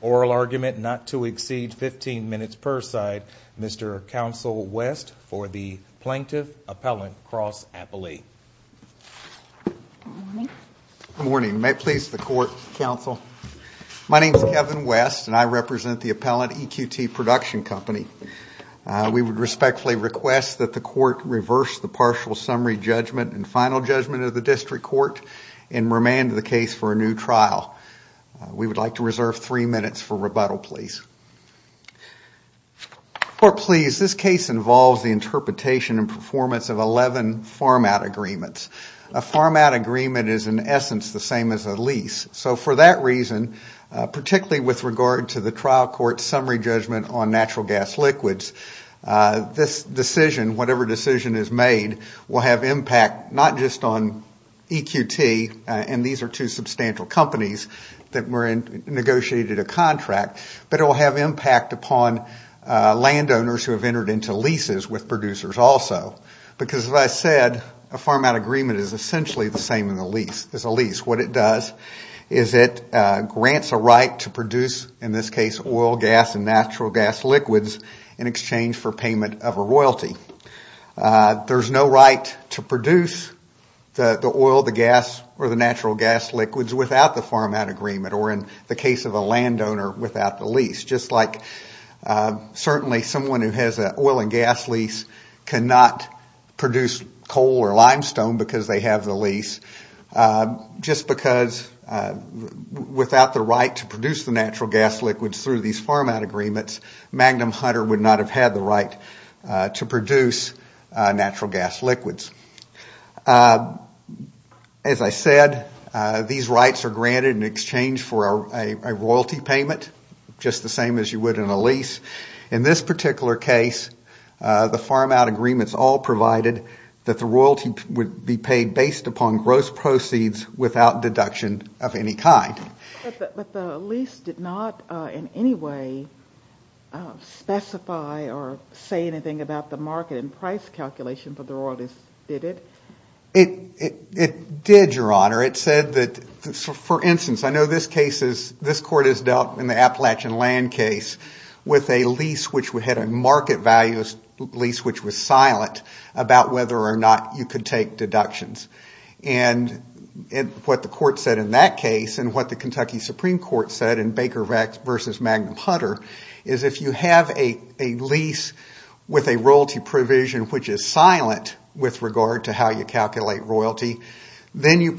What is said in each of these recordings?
Oral argument not to exceed 15 minutes per side, Mr. Counsel West for the Plaintiff-Appellant Cross-Appellee. Good morning, may it please the Court, Counsel. My name is Kevin West and I represent the Appellant EQT Production Company. We would respectfully request that the Court reverse the partial summary judgment and final judgment of the District Court and remand the case for a new trial. We would like to reserve three minutes for rebuttal, please. Court, please, this case involves the interpretation and performance of 11 farm-out agreements. A farm-out agreement is in essence the same as a lease. So for that reason, particularly with regard to the trial court's summary judgment on natural gas liquids, this decision, whatever decision is made, will have impact not just on EQT and these are two substantial companies that negotiated a contract, but it will have impact upon landowners who have entered into leases with producers also. Because as I said, a farm-out agreement is essentially the same as a lease. What it does is it grants a right to produce, in this case, oil, gas, and natural gas liquids in exchange for payment of a royalty. There's no right to produce the oil, the gas, or the natural gas liquids without the farm-out agreement, or in the case of a landowner, without the lease. Just like certainly someone who has an oil and gas lease cannot produce coal or limestone because they have the lease. Just because without the right to produce the natural gas liquids through these farm-out agreements, Magnum Hunter would not have had the right to produce natural gas liquids. As I said, these rights are granted in exchange for a royalty payment, just the same as you would in a lease. In this particular case, the farm-out agreements all provided that the royalty would be paid based upon gross proceeds without deduction of any kind. But the lease did not in any way specify or say anything about the market and price calculation for the royalties, did it? It did, Your Honor. For instance, I know this court has dealt in the Appalachian land case with a market value lease which was silent about whether or not you could take deductions. What the court said in that case, and what the Kentucky Supreme Court said in Baker v. Magnum Hunter, is if you have a lease with a royalty provision which is silent with regard to how you calculate royalty, then you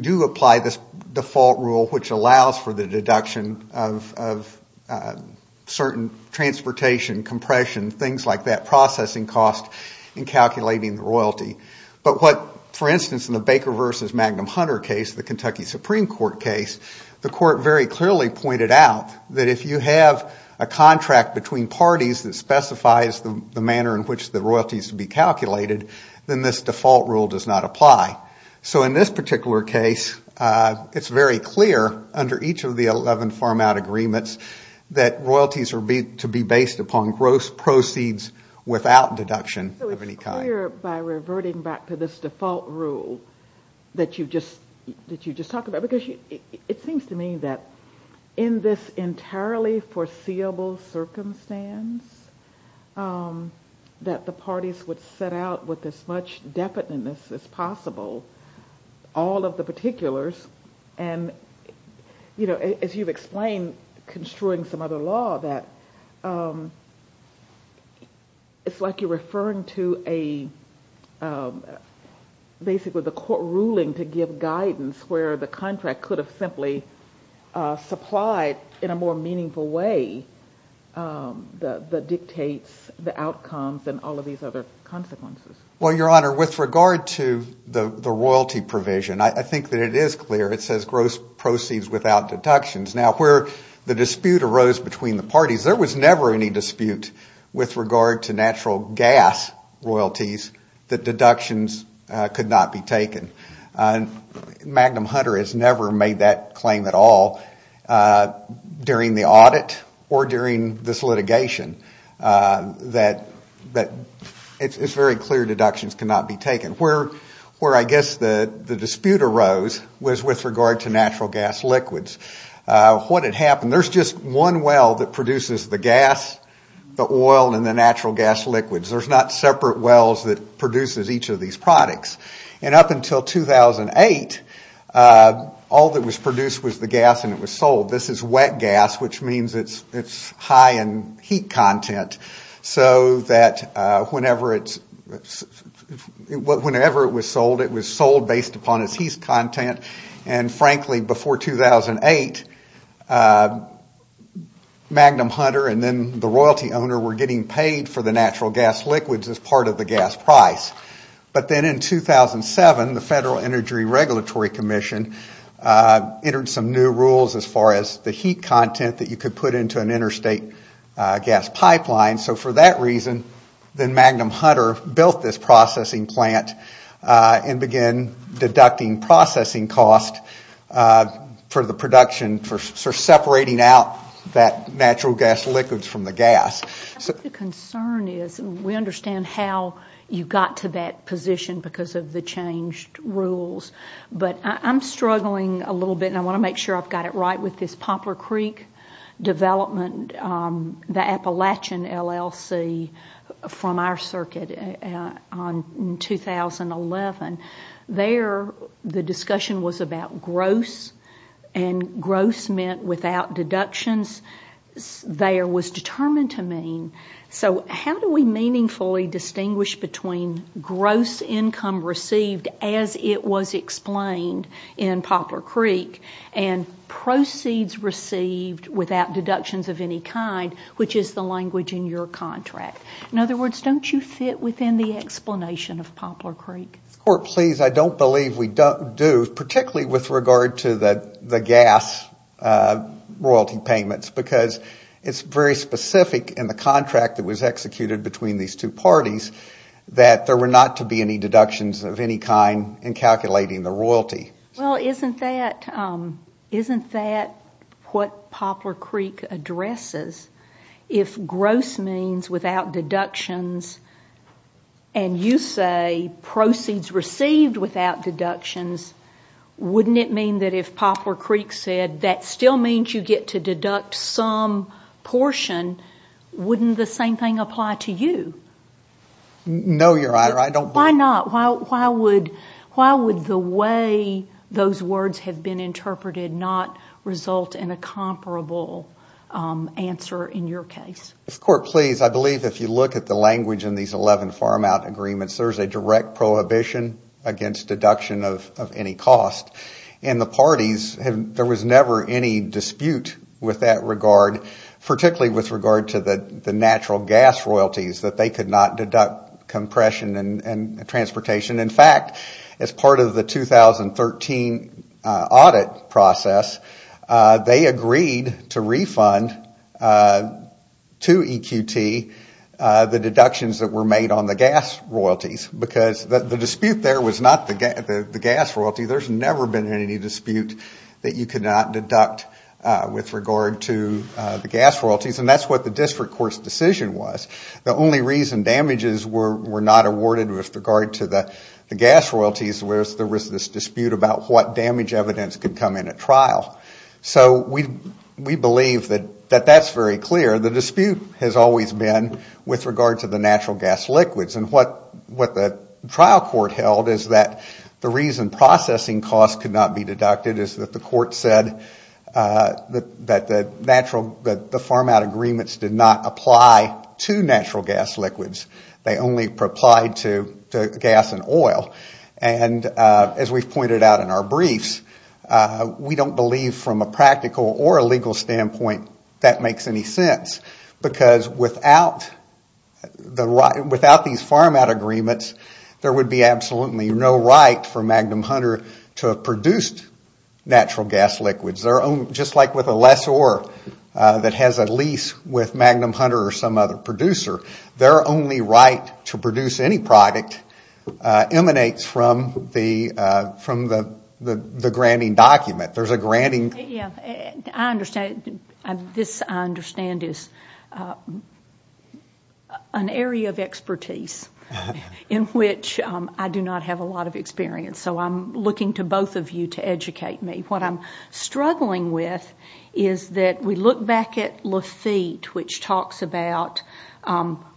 do apply this default rule which allows for the deduction of certain transportation, compression, things like that, processing cost in calculating the royalty. But what, for instance, in the Baker v. Magnum Hunter case, the Kentucky Supreme Court case, the court very clearly pointed out that if you have a contract between parties that specifies the manner in which the royalty is to be calculated, then this default rule does not apply. So in this particular case, it's very clear under each of the 11 farm-out agreements that royalties are to be based upon gross proceeds without deduction of any kind. So it's clear by reverting back to this default rule that you just talked about, because it seems to me that in this entirely foreseeable circumstance, that the parties would set out with as much definiteness as possible, all of the particulars, and as you've explained, construing some other law, that it's like you're referring to a court ruling to give guidance where the contract could have simply supplied in a more meaningful way the dictates, the outcomes, and all of these other consequences. Well, Your Honor, with regard to the royalty provision, I think that it is clear. It says gross proceeds without deductions. There was never any dispute with regard to natural gas royalties that deductions could not be taken. Magnum Hunter has never made that claim at all during the audit or during this litigation. It's very clear deductions cannot be taken. Where I guess the dispute arose was with regard to natural gas liquids. What had happened, there's just one well that produces the gas, the oil, and the natural gas liquids. There's not separate wells that produces each of these products. And up until 2008, all that was produced was the gas and it was sold. This is wet gas, which means it's high in heat content, so that whenever it was sold, it was sold based upon its heat content. And frankly, before 2008, Magnum Hunter and then the royalty owner were getting paid for the natural gas liquids as part of the gas price. But then in 2007, the Federal Energy Regulatory Commission entered some new rules as far as the heat content that you could put into an interstate gas pipeline. So for that reason, then Magnum Hunter built this processing plant and began deducting processing costs for the production, for separating out that natural gas liquids from the gas. The concern is we understand how you got to that position because of the changed rules. But I'm struggling a little bit, and I want to make sure I've got it right, with this Poplar Creek development, the Appalachian LLC from our circuit in 2011. There, the discussion was about gross, and gross meant without deductions. There was determined to mean, so how do we meaningfully distinguish between gross income received as it was explained in Poplar Creek and proceeds received without deductions of any kind, which is the language in your contract? In other words, don't you fit within the explanation of Poplar Creek? Please, I don't believe we do, particularly with regard to the gas royalty payments, because it's very specific in the contract that was executed between these two parties that there were not to be any deductions of any kind in calculating the royalty. Well, isn't that what Poplar Creek addresses? If gross means without deductions, and you say proceeds received without deductions, wouldn't it mean that if Poplar Creek said that still means you get to deduct some portion, wouldn't the same thing apply to you? No, Your Honor, I don't believe that. Why not? Why would the way those words have been interpreted not result in a comparable answer in your case? Court, please, I believe if you look at the language in these 11 farm-out agreements, there is a direct prohibition against deduction of any cost, and the parties, there was never any dispute with that regard, particularly with regard to the natural gas royalties, that they could not deduct compression and transportation. In fact, as part of the 2013 audit process, they agreed to refund to EQT the deductions that were made on the gas royalties, because the dispute there was not the gas royalty. There's never been any dispute that you could not deduct with regard to the gas royalties, and that's what the district court's decision was. The only reason damages were not awarded with regard to the gas royalties was there was this dispute about what damage evidence could come in at trial. So we believe that that's very clear. The dispute has always been with regard to the natural gas liquids, and what the trial court held is that the reason processing costs could not be deducted is that the court said that the farm-out agreements did not apply to natural gas liquids. They only applied to gas and oil. And as we've pointed out in our briefs, we don't believe from a practical or a legal standpoint that makes any sense, because without these farm-out agreements, there would be absolutely no right for Magnum Hunter to have produced natural gas liquids. Just like with a lessor that has a lease with Magnum Hunter or some other producer, their only right to produce any product emanates from the granting document. I understand this is an area of expertise in which I do not have a lot of experience, so I'm looking to both of you to educate me. What I'm struggling with is that we look back at Lafitte, which talks about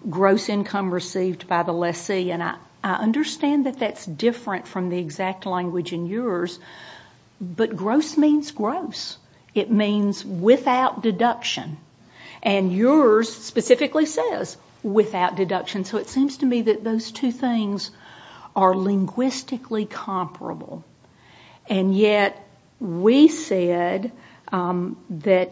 gross income received by the lessee, and I understand that that's different from the exact language in yours, but gross means gross. It means without deduction, and yours specifically says without deduction, so it seems to me that those two things are linguistically comparable, and yet we said that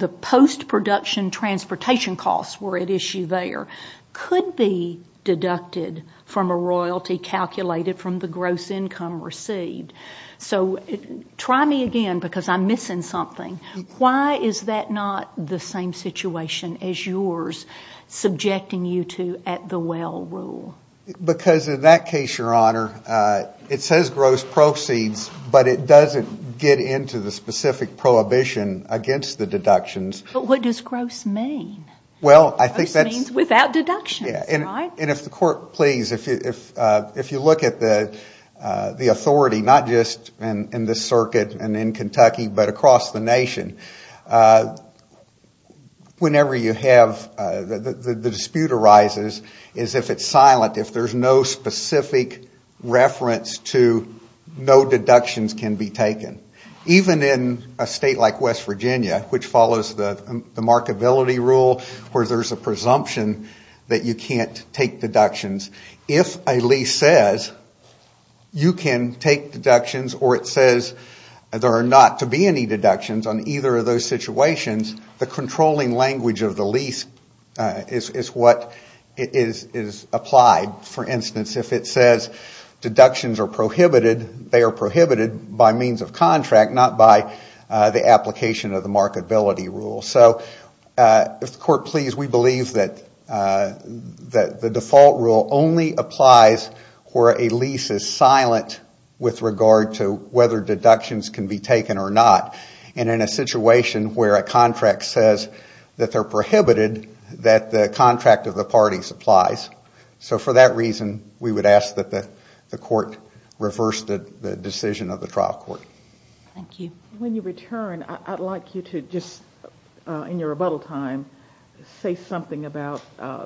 the post-production transportation costs were at issue there could be deducted from a royalty calculated from the gross income received. So try me again, because I'm missing something. Why is that not the same situation as yours, subjecting you to at-the-well rule? Because in that case, Your Honor, it says gross proceeds, but it doesn't get into the specific prohibition against the deductions. But what does gross mean? Well, I think that's Gross means without deductions, right? And if the Court, please, if you look at the authority, not just in this circuit and in Kentucky, but across the nation, whenever you have the dispute arises is if it's silent, if there's no specific reference to no deductions can be taken. Even in a state like West Virginia, which follows the markability rule, where there's a presumption that you can't take deductions, if a lease says you can take deductions or it says there are not to be any deductions on either of those situations, the controlling language of the lease is what is applied. For instance, if it says deductions are prohibited, they are prohibited by means of contract, not by the application of the markability rule. So if the Court, please, we believe that the default rule only applies where a lease is silent with regard to whether deductions can be taken or not. And in a situation where a contract says that they're prohibited, that the contract of the parties applies. So for that reason, we would ask that the Court reverse the decision of the trial court. Thank you. When you return, I'd like you to just, in your rebuttal time, say something about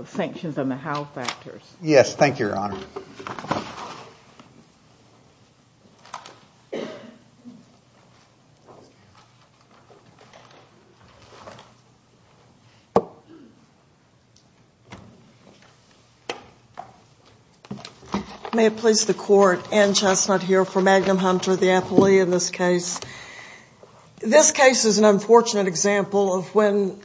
sanctions and the how factors. Yes, thank you, Your Honor. May it please the Court, Anne Chestnut here for Magnum Hunter, the appellee in this case. This case is an unfortunate example of when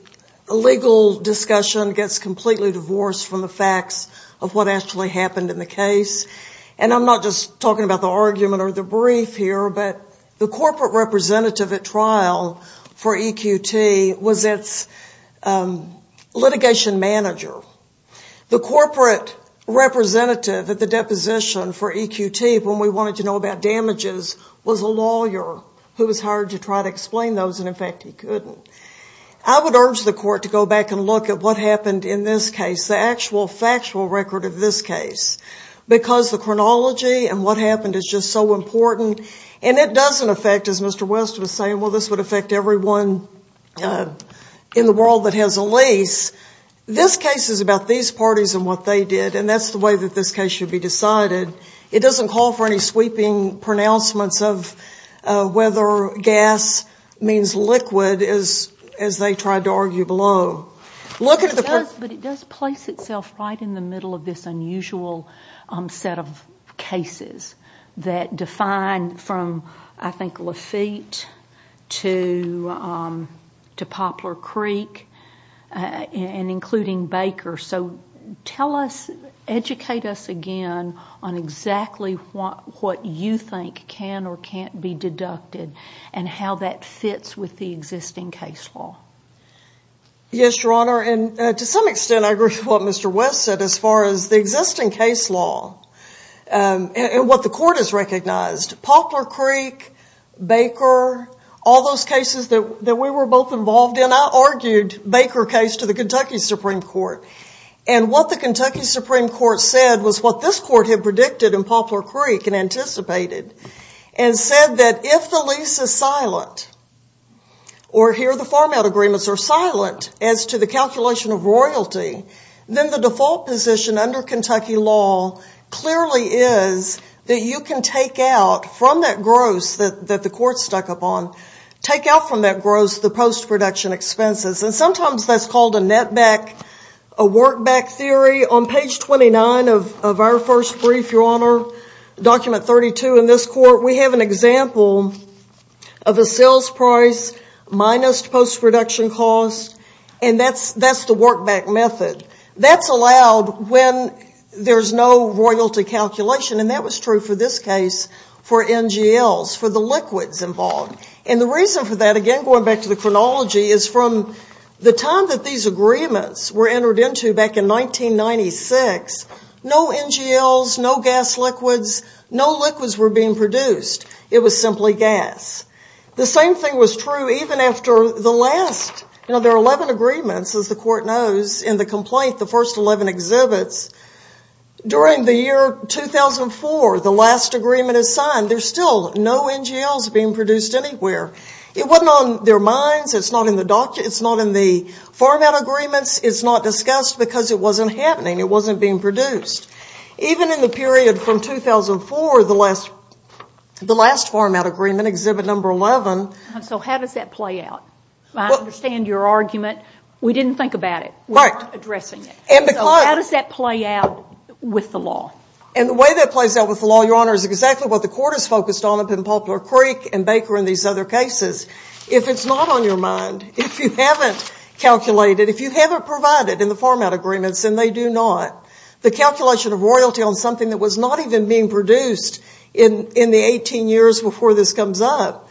a legal discussion gets completely divorced from the facts of what actually happened in the case. And I'm not just talking about the argument or the brief here, but the corporate representative at trial for EQT was its litigation manager. The corporate representative at the deposition for EQT when we wanted to know about damages was a lawyer who was hired to try to explain those, and, in fact, he couldn't. I would urge the Court to go back and look at what happened in this case, the actual factual record of this case, because the chronology and what happened is just so important. And it doesn't affect, as Mr. West was saying, well, this would affect everyone in the world that has a lease. This case is about these parties and what they did, and that's the way that this case should be decided. It doesn't call for any sweeping pronouncements of whether gas means liquid, as they tried to argue below. It does, but it does place itself right in the middle of this unusual set of cases that define from, I think, Lafitte to Poplar Creek and including Baker. So educate us again on exactly what you think can or can't be deducted and how that fits with the existing case law. Yes, Your Honor, and to some extent I agree with what Mr. West said as far as the existing case law and what the Court has recognized. Poplar Creek, Baker, all those cases that we were both involved in, I argued Baker case to the Kentucky Supreme Court. And what the Kentucky Supreme Court said was what this Court had predicted in Poplar Creek and anticipated, and said that if the lease is silent, or here the farm-out agreements are silent as to the calculation of royalty, then the default position under Kentucky law clearly is that you can take out from that gross that the Court stuck up on, take out from that gross the post-production expenses. And sometimes that's called a net-back, a work-back theory. On page 29 of our first brief, Your Honor, document 32 in this Court, we have an example of a sales price minus post-production cost, and that's the work-back method. That's allowed when there's no royalty calculation, and that was true for this case for NGLs, for the liquids involved. And the reason for that, again, going back to the chronology, is from the time that these agreements were entered into back in 1996, no NGLs, no gas liquids, no liquids were being produced. It was simply gas. The same thing was true even after the last, you know, there are 11 agreements, as the Court knows, in the complaint, the first 11 exhibits. During the year 2004, the last agreement is signed. There's still no NGLs being produced anywhere. It wasn't on their minds. It's not in the farm-out agreements. It's not discussed because it wasn't happening. It wasn't being produced. Even in the period from 2004, the last farm-out agreement, exhibit number 11. So how does that play out? I understand your argument. We didn't think about it. We're not addressing it. So how does that play out with the law? And the way that it plays out with the law, Your Honor, is exactly what the Court has focused on up in Poplar Creek and Baker and these other cases. If it's not on your mind, if you haven't calculated, if you haven't provided in the farm-out agreements, and they do not, the calculation of royalty on something that was not even being produced in the 18 years before this comes up,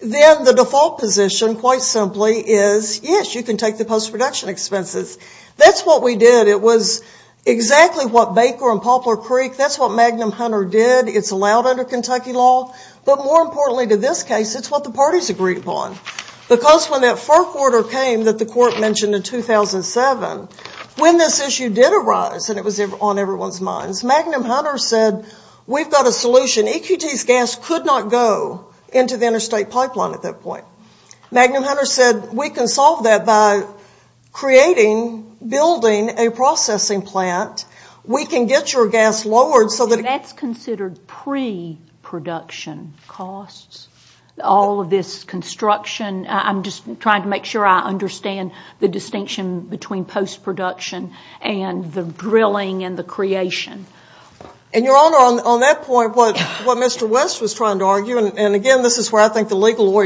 then the default position, quite simply, is, yes, you can take the post-production expenses. That's what we did. It was exactly what Baker and Poplar Creek, that's what Magnum Hunter did. It's allowed under Kentucky law. But more importantly to this case, it's what the parties agreed upon. Because when that first order came that the Court mentioned in 2007, when this issue did arise, and it was on everyone's minds, Magnum Hunter said, we've got a solution. EQT's gas could not go into the interstate pipeline at that point. Magnum Hunter said, we can solve that by creating, building a processing plant. We can get your gas lowered so that it can be produced. That's considered pre-production costs, all of this construction. I'm just trying to make sure I understand the distinction between post-production and the drilling and the creation. And, Your Honor, on that point, what Mr. West was trying to argue, and, again, this is where I think the legal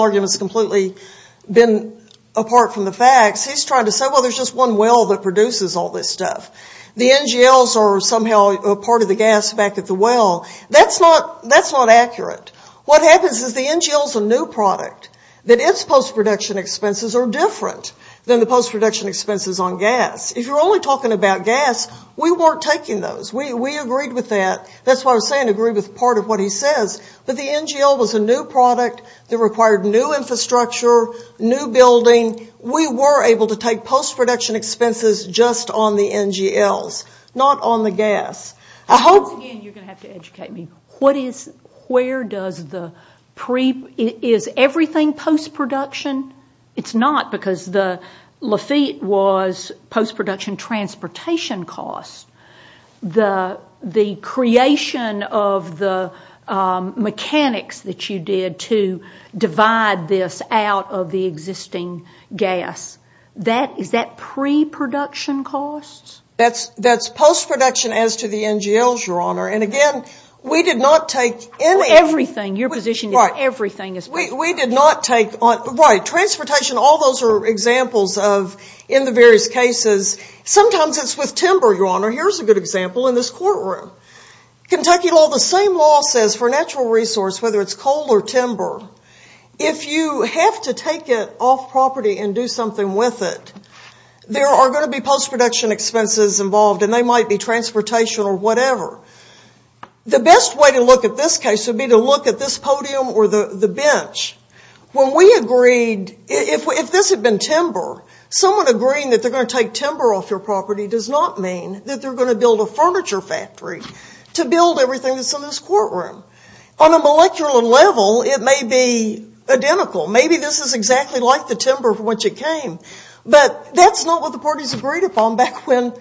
argument's completely been apart from the facts. He's trying to say, well, there's just one well that produces all this stuff. The NGLs are somehow part of the gas back at the well. That's not accurate. What happens is the NGL's a new product, that its post-production expenses are different than the post-production expenses on gas. If you're only talking about gas, we weren't taking those. We agreed with that. That's why I was saying agree with part of what he says. But the NGL was a new product that required new infrastructure, new building. We were able to take post-production expenses just on the NGLs, not on the gas. I hope, again, you're going to have to educate me. Where does the pre- Is everything post-production? It's not because the Lafitte was post-production transportation costs. The creation of the mechanics that you did to divide this out of the existing gas, is that pre-production costs? That's post-production as to the NGLs, Your Honor. And, again, we did not take any- Everything. Your position is everything is- We did not take on-right. Transportation, all those are examples of in the various cases. Sometimes it's with timber, Your Honor. Here's a good example in this courtroom. Kentucky law, the same law says for natural resource, whether it's coal or timber, if you have to take it off property and do something with it, there are going to be post-production expenses involved, and they might be transportation or whatever. The best way to look at this case would be to look at this podium or the bench. When we agreed, if this had been timber, someone agreeing that they're going to take timber off your property does not mean that they're going to build a furniture factory to build everything that's in this courtroom. On a molecular level, it may be identical. Maybe this is exactly like the timber from which it came, but that's not what the parties agreed upon back when-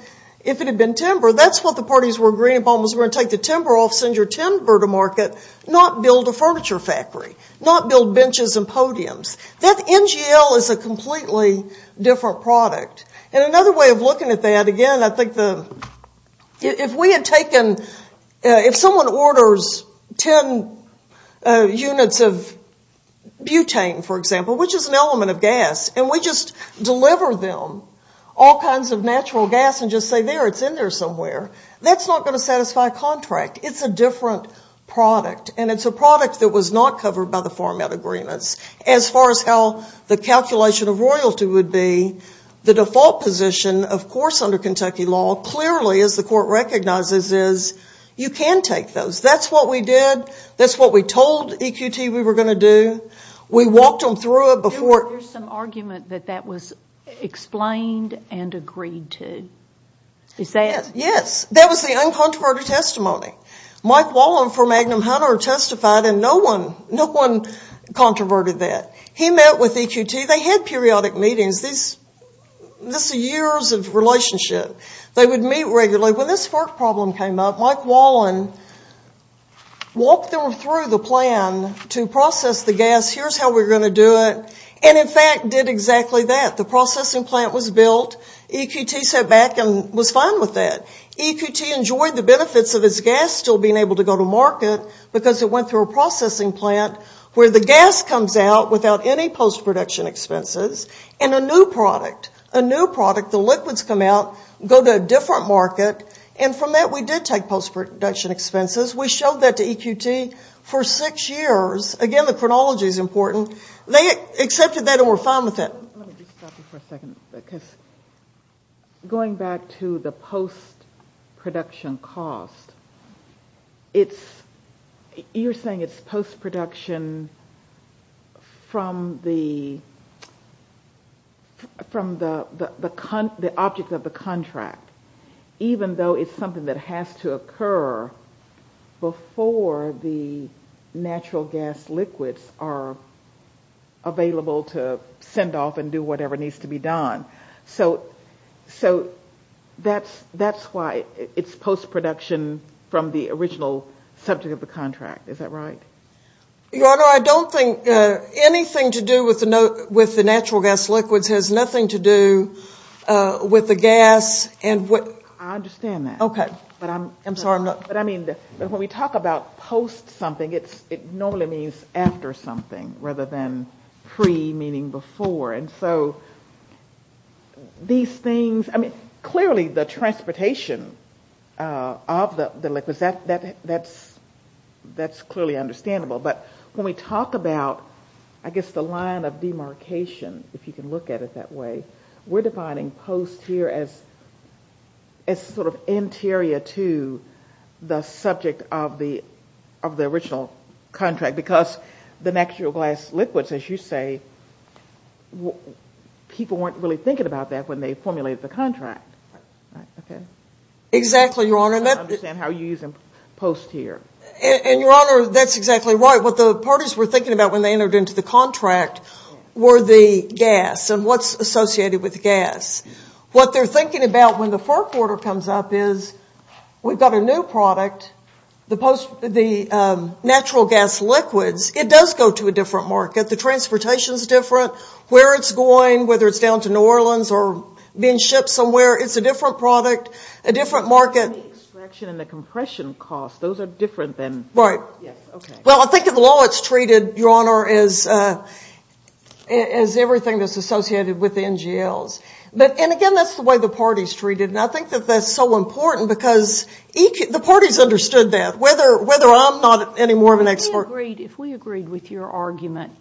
If it had been timber, that's what the parties were agreeing upon was we're going to take the timber off, send your timber to market, not build a furniture factory, not build benches and podiums. That NGL is a completely different product. And another way of looking at that, again, I think the- If we had taken- If someone orders ten units of butane, for example, which is an element of gas, and we just deliver them all kinds of natural gas and just say, there, it's in there somewhere, that's not going to satisfy a contract. It's a different product, and it's a product that was not covered by the farm out agreements. As far as how the calculation of royalty would be, the default position, of course, under Kentucky law, clearly, as the court recognizes, is you can take those. That's what we did. That's what we told EQT we were going to do. We walked them through it before- There's some argument that that was explained and agreed to. Is that- Yes. That was the uncontroverted testimony. Mike Wallen from Magnum Hunter testified, and no one controverted that. He met with EQT. They had periodic meetings. This is years of relationship. They would meet regularly. When this FARC problem came up, Mike Wallen walked them through the plan to process the gas, here's how we're going to do it, and, in fact, did exactly that. The processing plant was built. EQT sat back and was fine with that. EQT enjoyed the benefits of its gas still being able to go to market because it went through a processing plant where the gas comes out without any post-production expenses and a new product. A new product, the liquids come out, go to a different market, and from that we did take post-production expenses. We showed that to EQT for six years. Again, the chronology is important. They accepted that and were fine with it. Let me just stop you for a second. Going back to the post-production cost, you're saying it's post-production from the object of the contract, even though it's something that has to occur before the natural gas liquids are available to send off and do whatever needs to be done. So that's why it's post-production from the original subject of the contract. Is that right? Your Honor, I don't think anything to do with the natural gas liquids has nothing to do with the gas. I understand that. Okay. I'm sorry. When we talk about post something, it normally means after something rather than pre meaning before. Clearly the transportation of the liquids, that's clearly understandable. But when we talk about, I guess, the line of demarcation, if you can look at it that way, we're defining post here as sort of interior to the subject of the original contract because the natural gas liquids, as you say, people weren't really thinking about that when they formulated the contract. Exactly, Your Honor. I don't understand how you're using post here. And, Your Honor, that's exactly right. What the parties were thinking about when they entered into the contract were the gas and what's associated with gas. What they're thinking about when the first order comes up is we've got a new product. The natural gas liquids, it does go to a different market. The transportation is different. Where it's going, whether it's down to New Orleans or being shipped somewhere, it's a different product, a different market. And the extraction and the compression costs, those are different thanó Right. Yes, okay. Well, I think of the law it's treated, Your Honor, as everything that's associated with the NGLs. And, again, that's the way the parties treated it. And I think that that's so important because the parties understood that. Whether I'm not any more of an expertó If we agreed with your argument,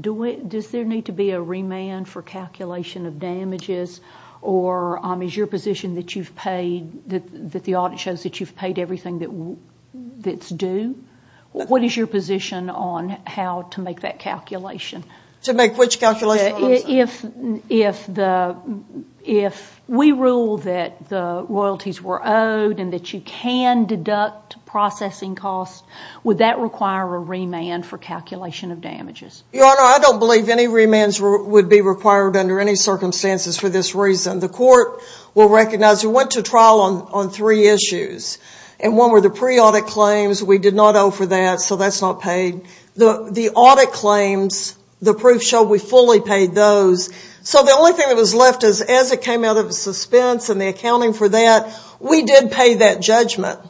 does there need to be a remand for calculation of damages? Or is your position that you've paidó that the audit shows that you've paid everything that's due? What is your position on how to make that calculation? To make which calculation? If we rule that the royalties were owed and that you can deduct processing costs, would that require a remand for calculation of damages? Your Honor, I don't believe any remands would be required under any circumstances for this reason. The court will recognize we went to trial on three issues. And one were the pre-audit claims. We did not owe for that, so that's not paid. The audit claims, the proof showed we fully paid those. So the only thing that was left is as it came out of the suspense and the accounting for that, we did pay that judgment.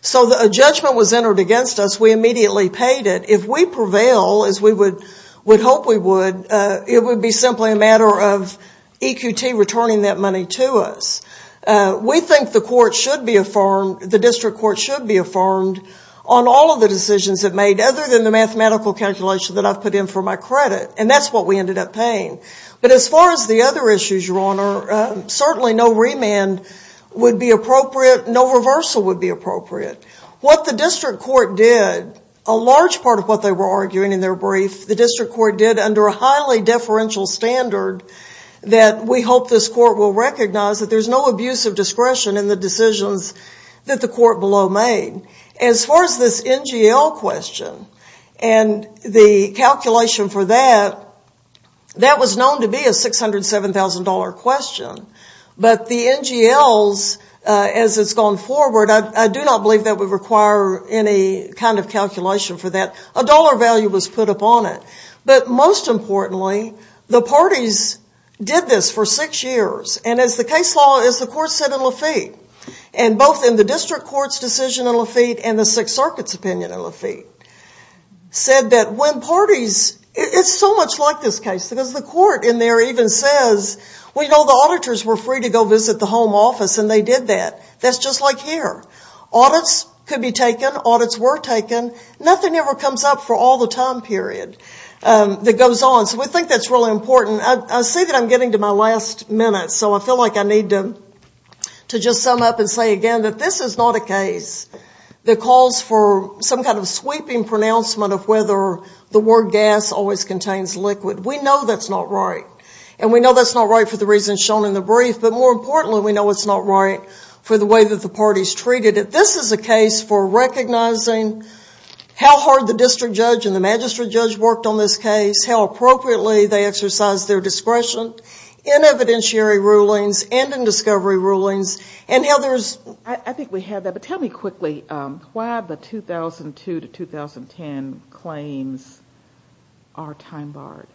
So a judgment was entered against us, we immediately paid it. If we prevail, as we would hope we would, it would be simply a matter of EQT returning that money to us. We think the district court should be affirmed on all of the decisions it made, other than the mathematical calculation that I've put in for my credit. And that's what we ended up paying. But as far as the other issues, Your Honor, certainly no remand would be appropriate, no reversal would be appropriate. What the district court did, a large part of what they were arguing in their brief, the district court did under a highly deferential standard that we hope this court will recognize that there's no abuse of discretion in the decisions that the court below made. As far as this NGL question and the calculation for that, that was known to be a $607,000 question. But the NGLs, as it's gone forward, I do not believe that would require any kind of calculation for that. A dollar value was put upon it. But most importantly, the parties did this for six years. And as the case law, as the court said in Lafitte, and both in the district court's decision in Lafitte and the Sixth Circuit's opinion in Lafitte, said that when parties, it's so much like this case, because the court in there even says, well, you know, the auditors were free to go visit the home office and they did that. That's just like here. Audits could be taken, audits were taken, nothing ever comes up for all the time period that goes on. So we think that's really important. I see that I'm getting to my last minute, so I feel like I need to just sum up and say again that this is not a case that calls for some kind of sweeping pronouncement of whether the word gas always contains liquid. We know that's not right. And we know that's not right for the reasons shown in the brief, but more importantly, we know it's not right for the way that the parties treated it. This is a case for recognizing how hard the district judge and the magistrate judge worked on this case, how appropriately they exercised their discretion in evidentiary rulings and in discovery rulings, and how there's... I think we have that, but tell me quickly why the 2002 to 2010 claims are time-barred.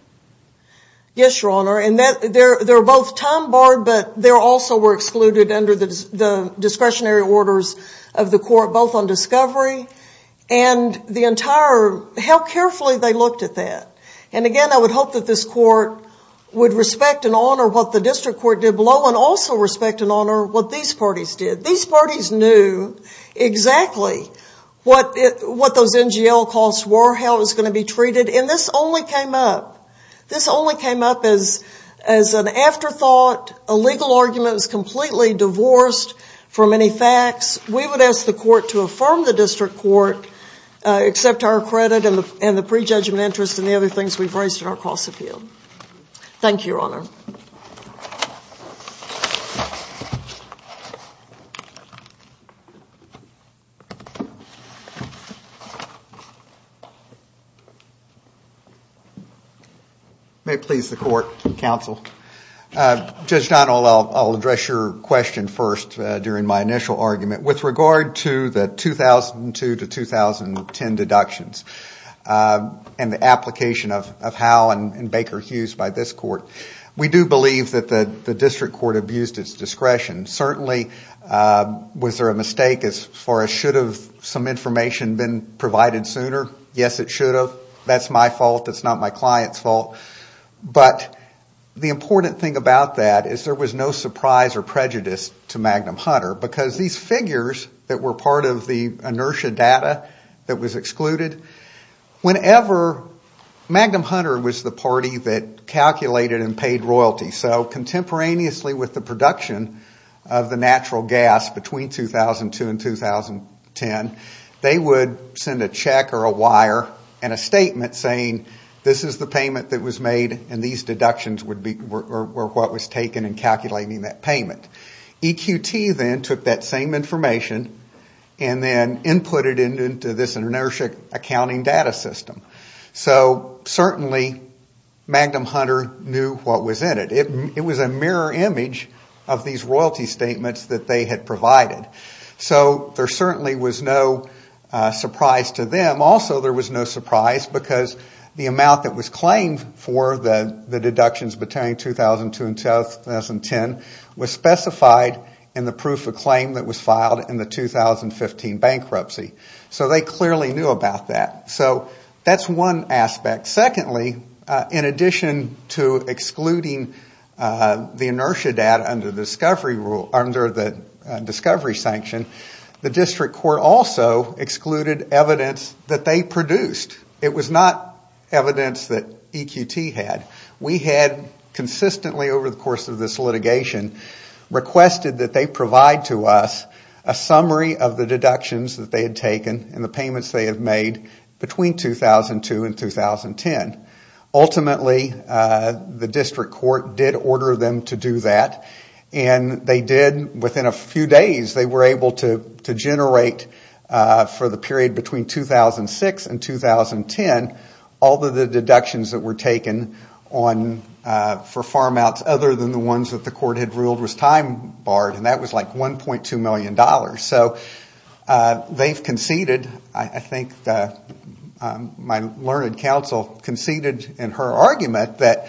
Yes, Your Honor, and they're both time-barred, but they also were excluded under the discretionary orders of the court, both on discovery and the entire...how carefully they looked at that. And again, I would hope that this court would respect and honor what the district court did below and also respect and honor what these parties did. These parties knew exactly what those NGL costs were, how it was going to be treated, and this only came up. As an afterthought, a legal argument is completely divorced from any facts. We would ask the court to affirm the district court, accept our credit and the prejudgment interest and the other things we've raised in our cross-appeal. Thank you, Your Honor. Thank you. May it please the court, counsel. Judge Donnell, I'll address your question first during my initial argument. With regard to the 2002 to 2010 deductions and the application of Howe and Baker Hughes by this court, we do believe that the district court abused its discretion. Certainly, was there a mistake as far as should have some information been provided sooner? Yes, it should have. That's my fault. That's not my client's fault. But the important thing about that is there was no surprise or prejudice to Magnum Hunter because these figures that were part of the inertia data that was excluded, whenever Magnum Hunter was the party that calculated and paid royalty, so contemporaneously with the production of the natural gas between 2002 and 2010, they would send a check or a wire and a statement saying this is the payment that was made and these deductions were what was taken in calculating that payment. EQT then took that same information and then inputted it into this inertia accounting data system. So certainly Magnum Hunter knew what was in it. It was a mirror image of these royalty statements that they had provided. So there certainly was no surprise to them. Also there was no surprise because the amount that was claimed for the deductions between 2002 and 2010 was specified in the proof of claim that was filed in the 2015 bankruptcy. So they clearly knew about that. So that's one aspect. Secondly, in addition to excluding the inertia data under the discovery sanction, the district court also excluded evidence that they produced. It was not evidence that EQT had. We had consistently over the course of this litigation requested that they provide to us a summary of the deductions that they had taken and the payments they had made between 2002 and 2010. Ultimately the district court did order them to do that and they did within a few days they were able to generate for the period between 2006 and 2010 all of the deductions that were taken for farm outs other than the ones that the court had ruled was time barred and that was like $1.2 million. So they've conceded, I think my learned counsel conceded in her argument that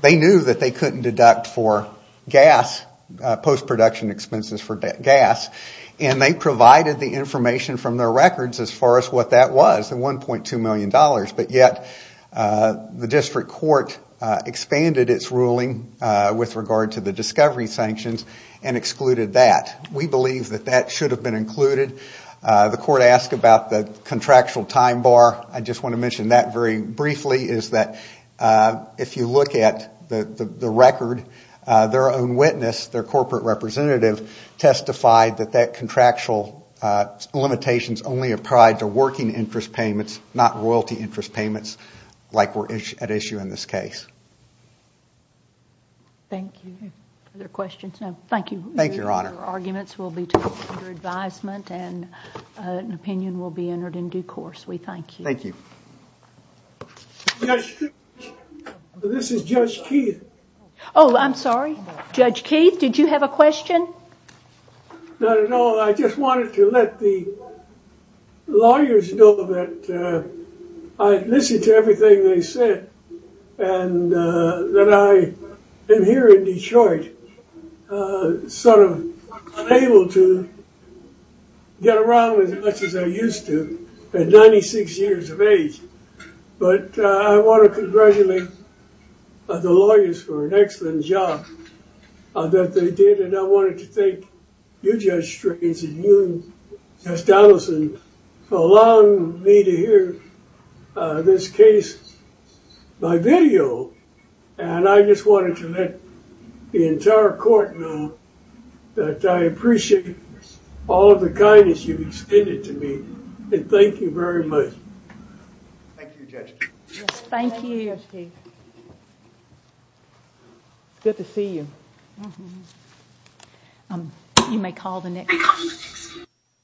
they knew that they couldn't deduct for gas, post production expenses for gas and they provided the information from their records as far as what that was, less than $1.2 million, but yet the district court expanded its ruling with regard to the discovery sanctions and excluded that. We believe that that should have been included. The court asked about the contractual time bar. I just want to mention that very briefly is that if you look at the record, their own witness, their corporate representative, testified that that contractual limitations only applied to working interest payments, not royalty interest payments like were at issue in this case. Thank you. Other questions? Thank you. Your arguments will be taken under advisement and an opinion will be entered in due course. We thank you. Thank you. This is Judge Keith. Oh, I'm sorry. Judge Keith, did you have a question? Not at all. I just wanted to let the lawyers know that I listened to everything they said and that I am here in Detroit sort of unable to get around as much as I used to at 96 years of age, but I want to congratulate the lawyers for an excellent job that they did, and I wanted to thank you, Judge Straits, and you, Judge Donaldson, for allowing me to hear this case by video, and I just wanted to let the entire court know that I appreciate all of the kindness you've extended to me, and thank you very much. Thank you, Judge Keith. Thank you, Judge Keith. It's good to see you. You may call the next.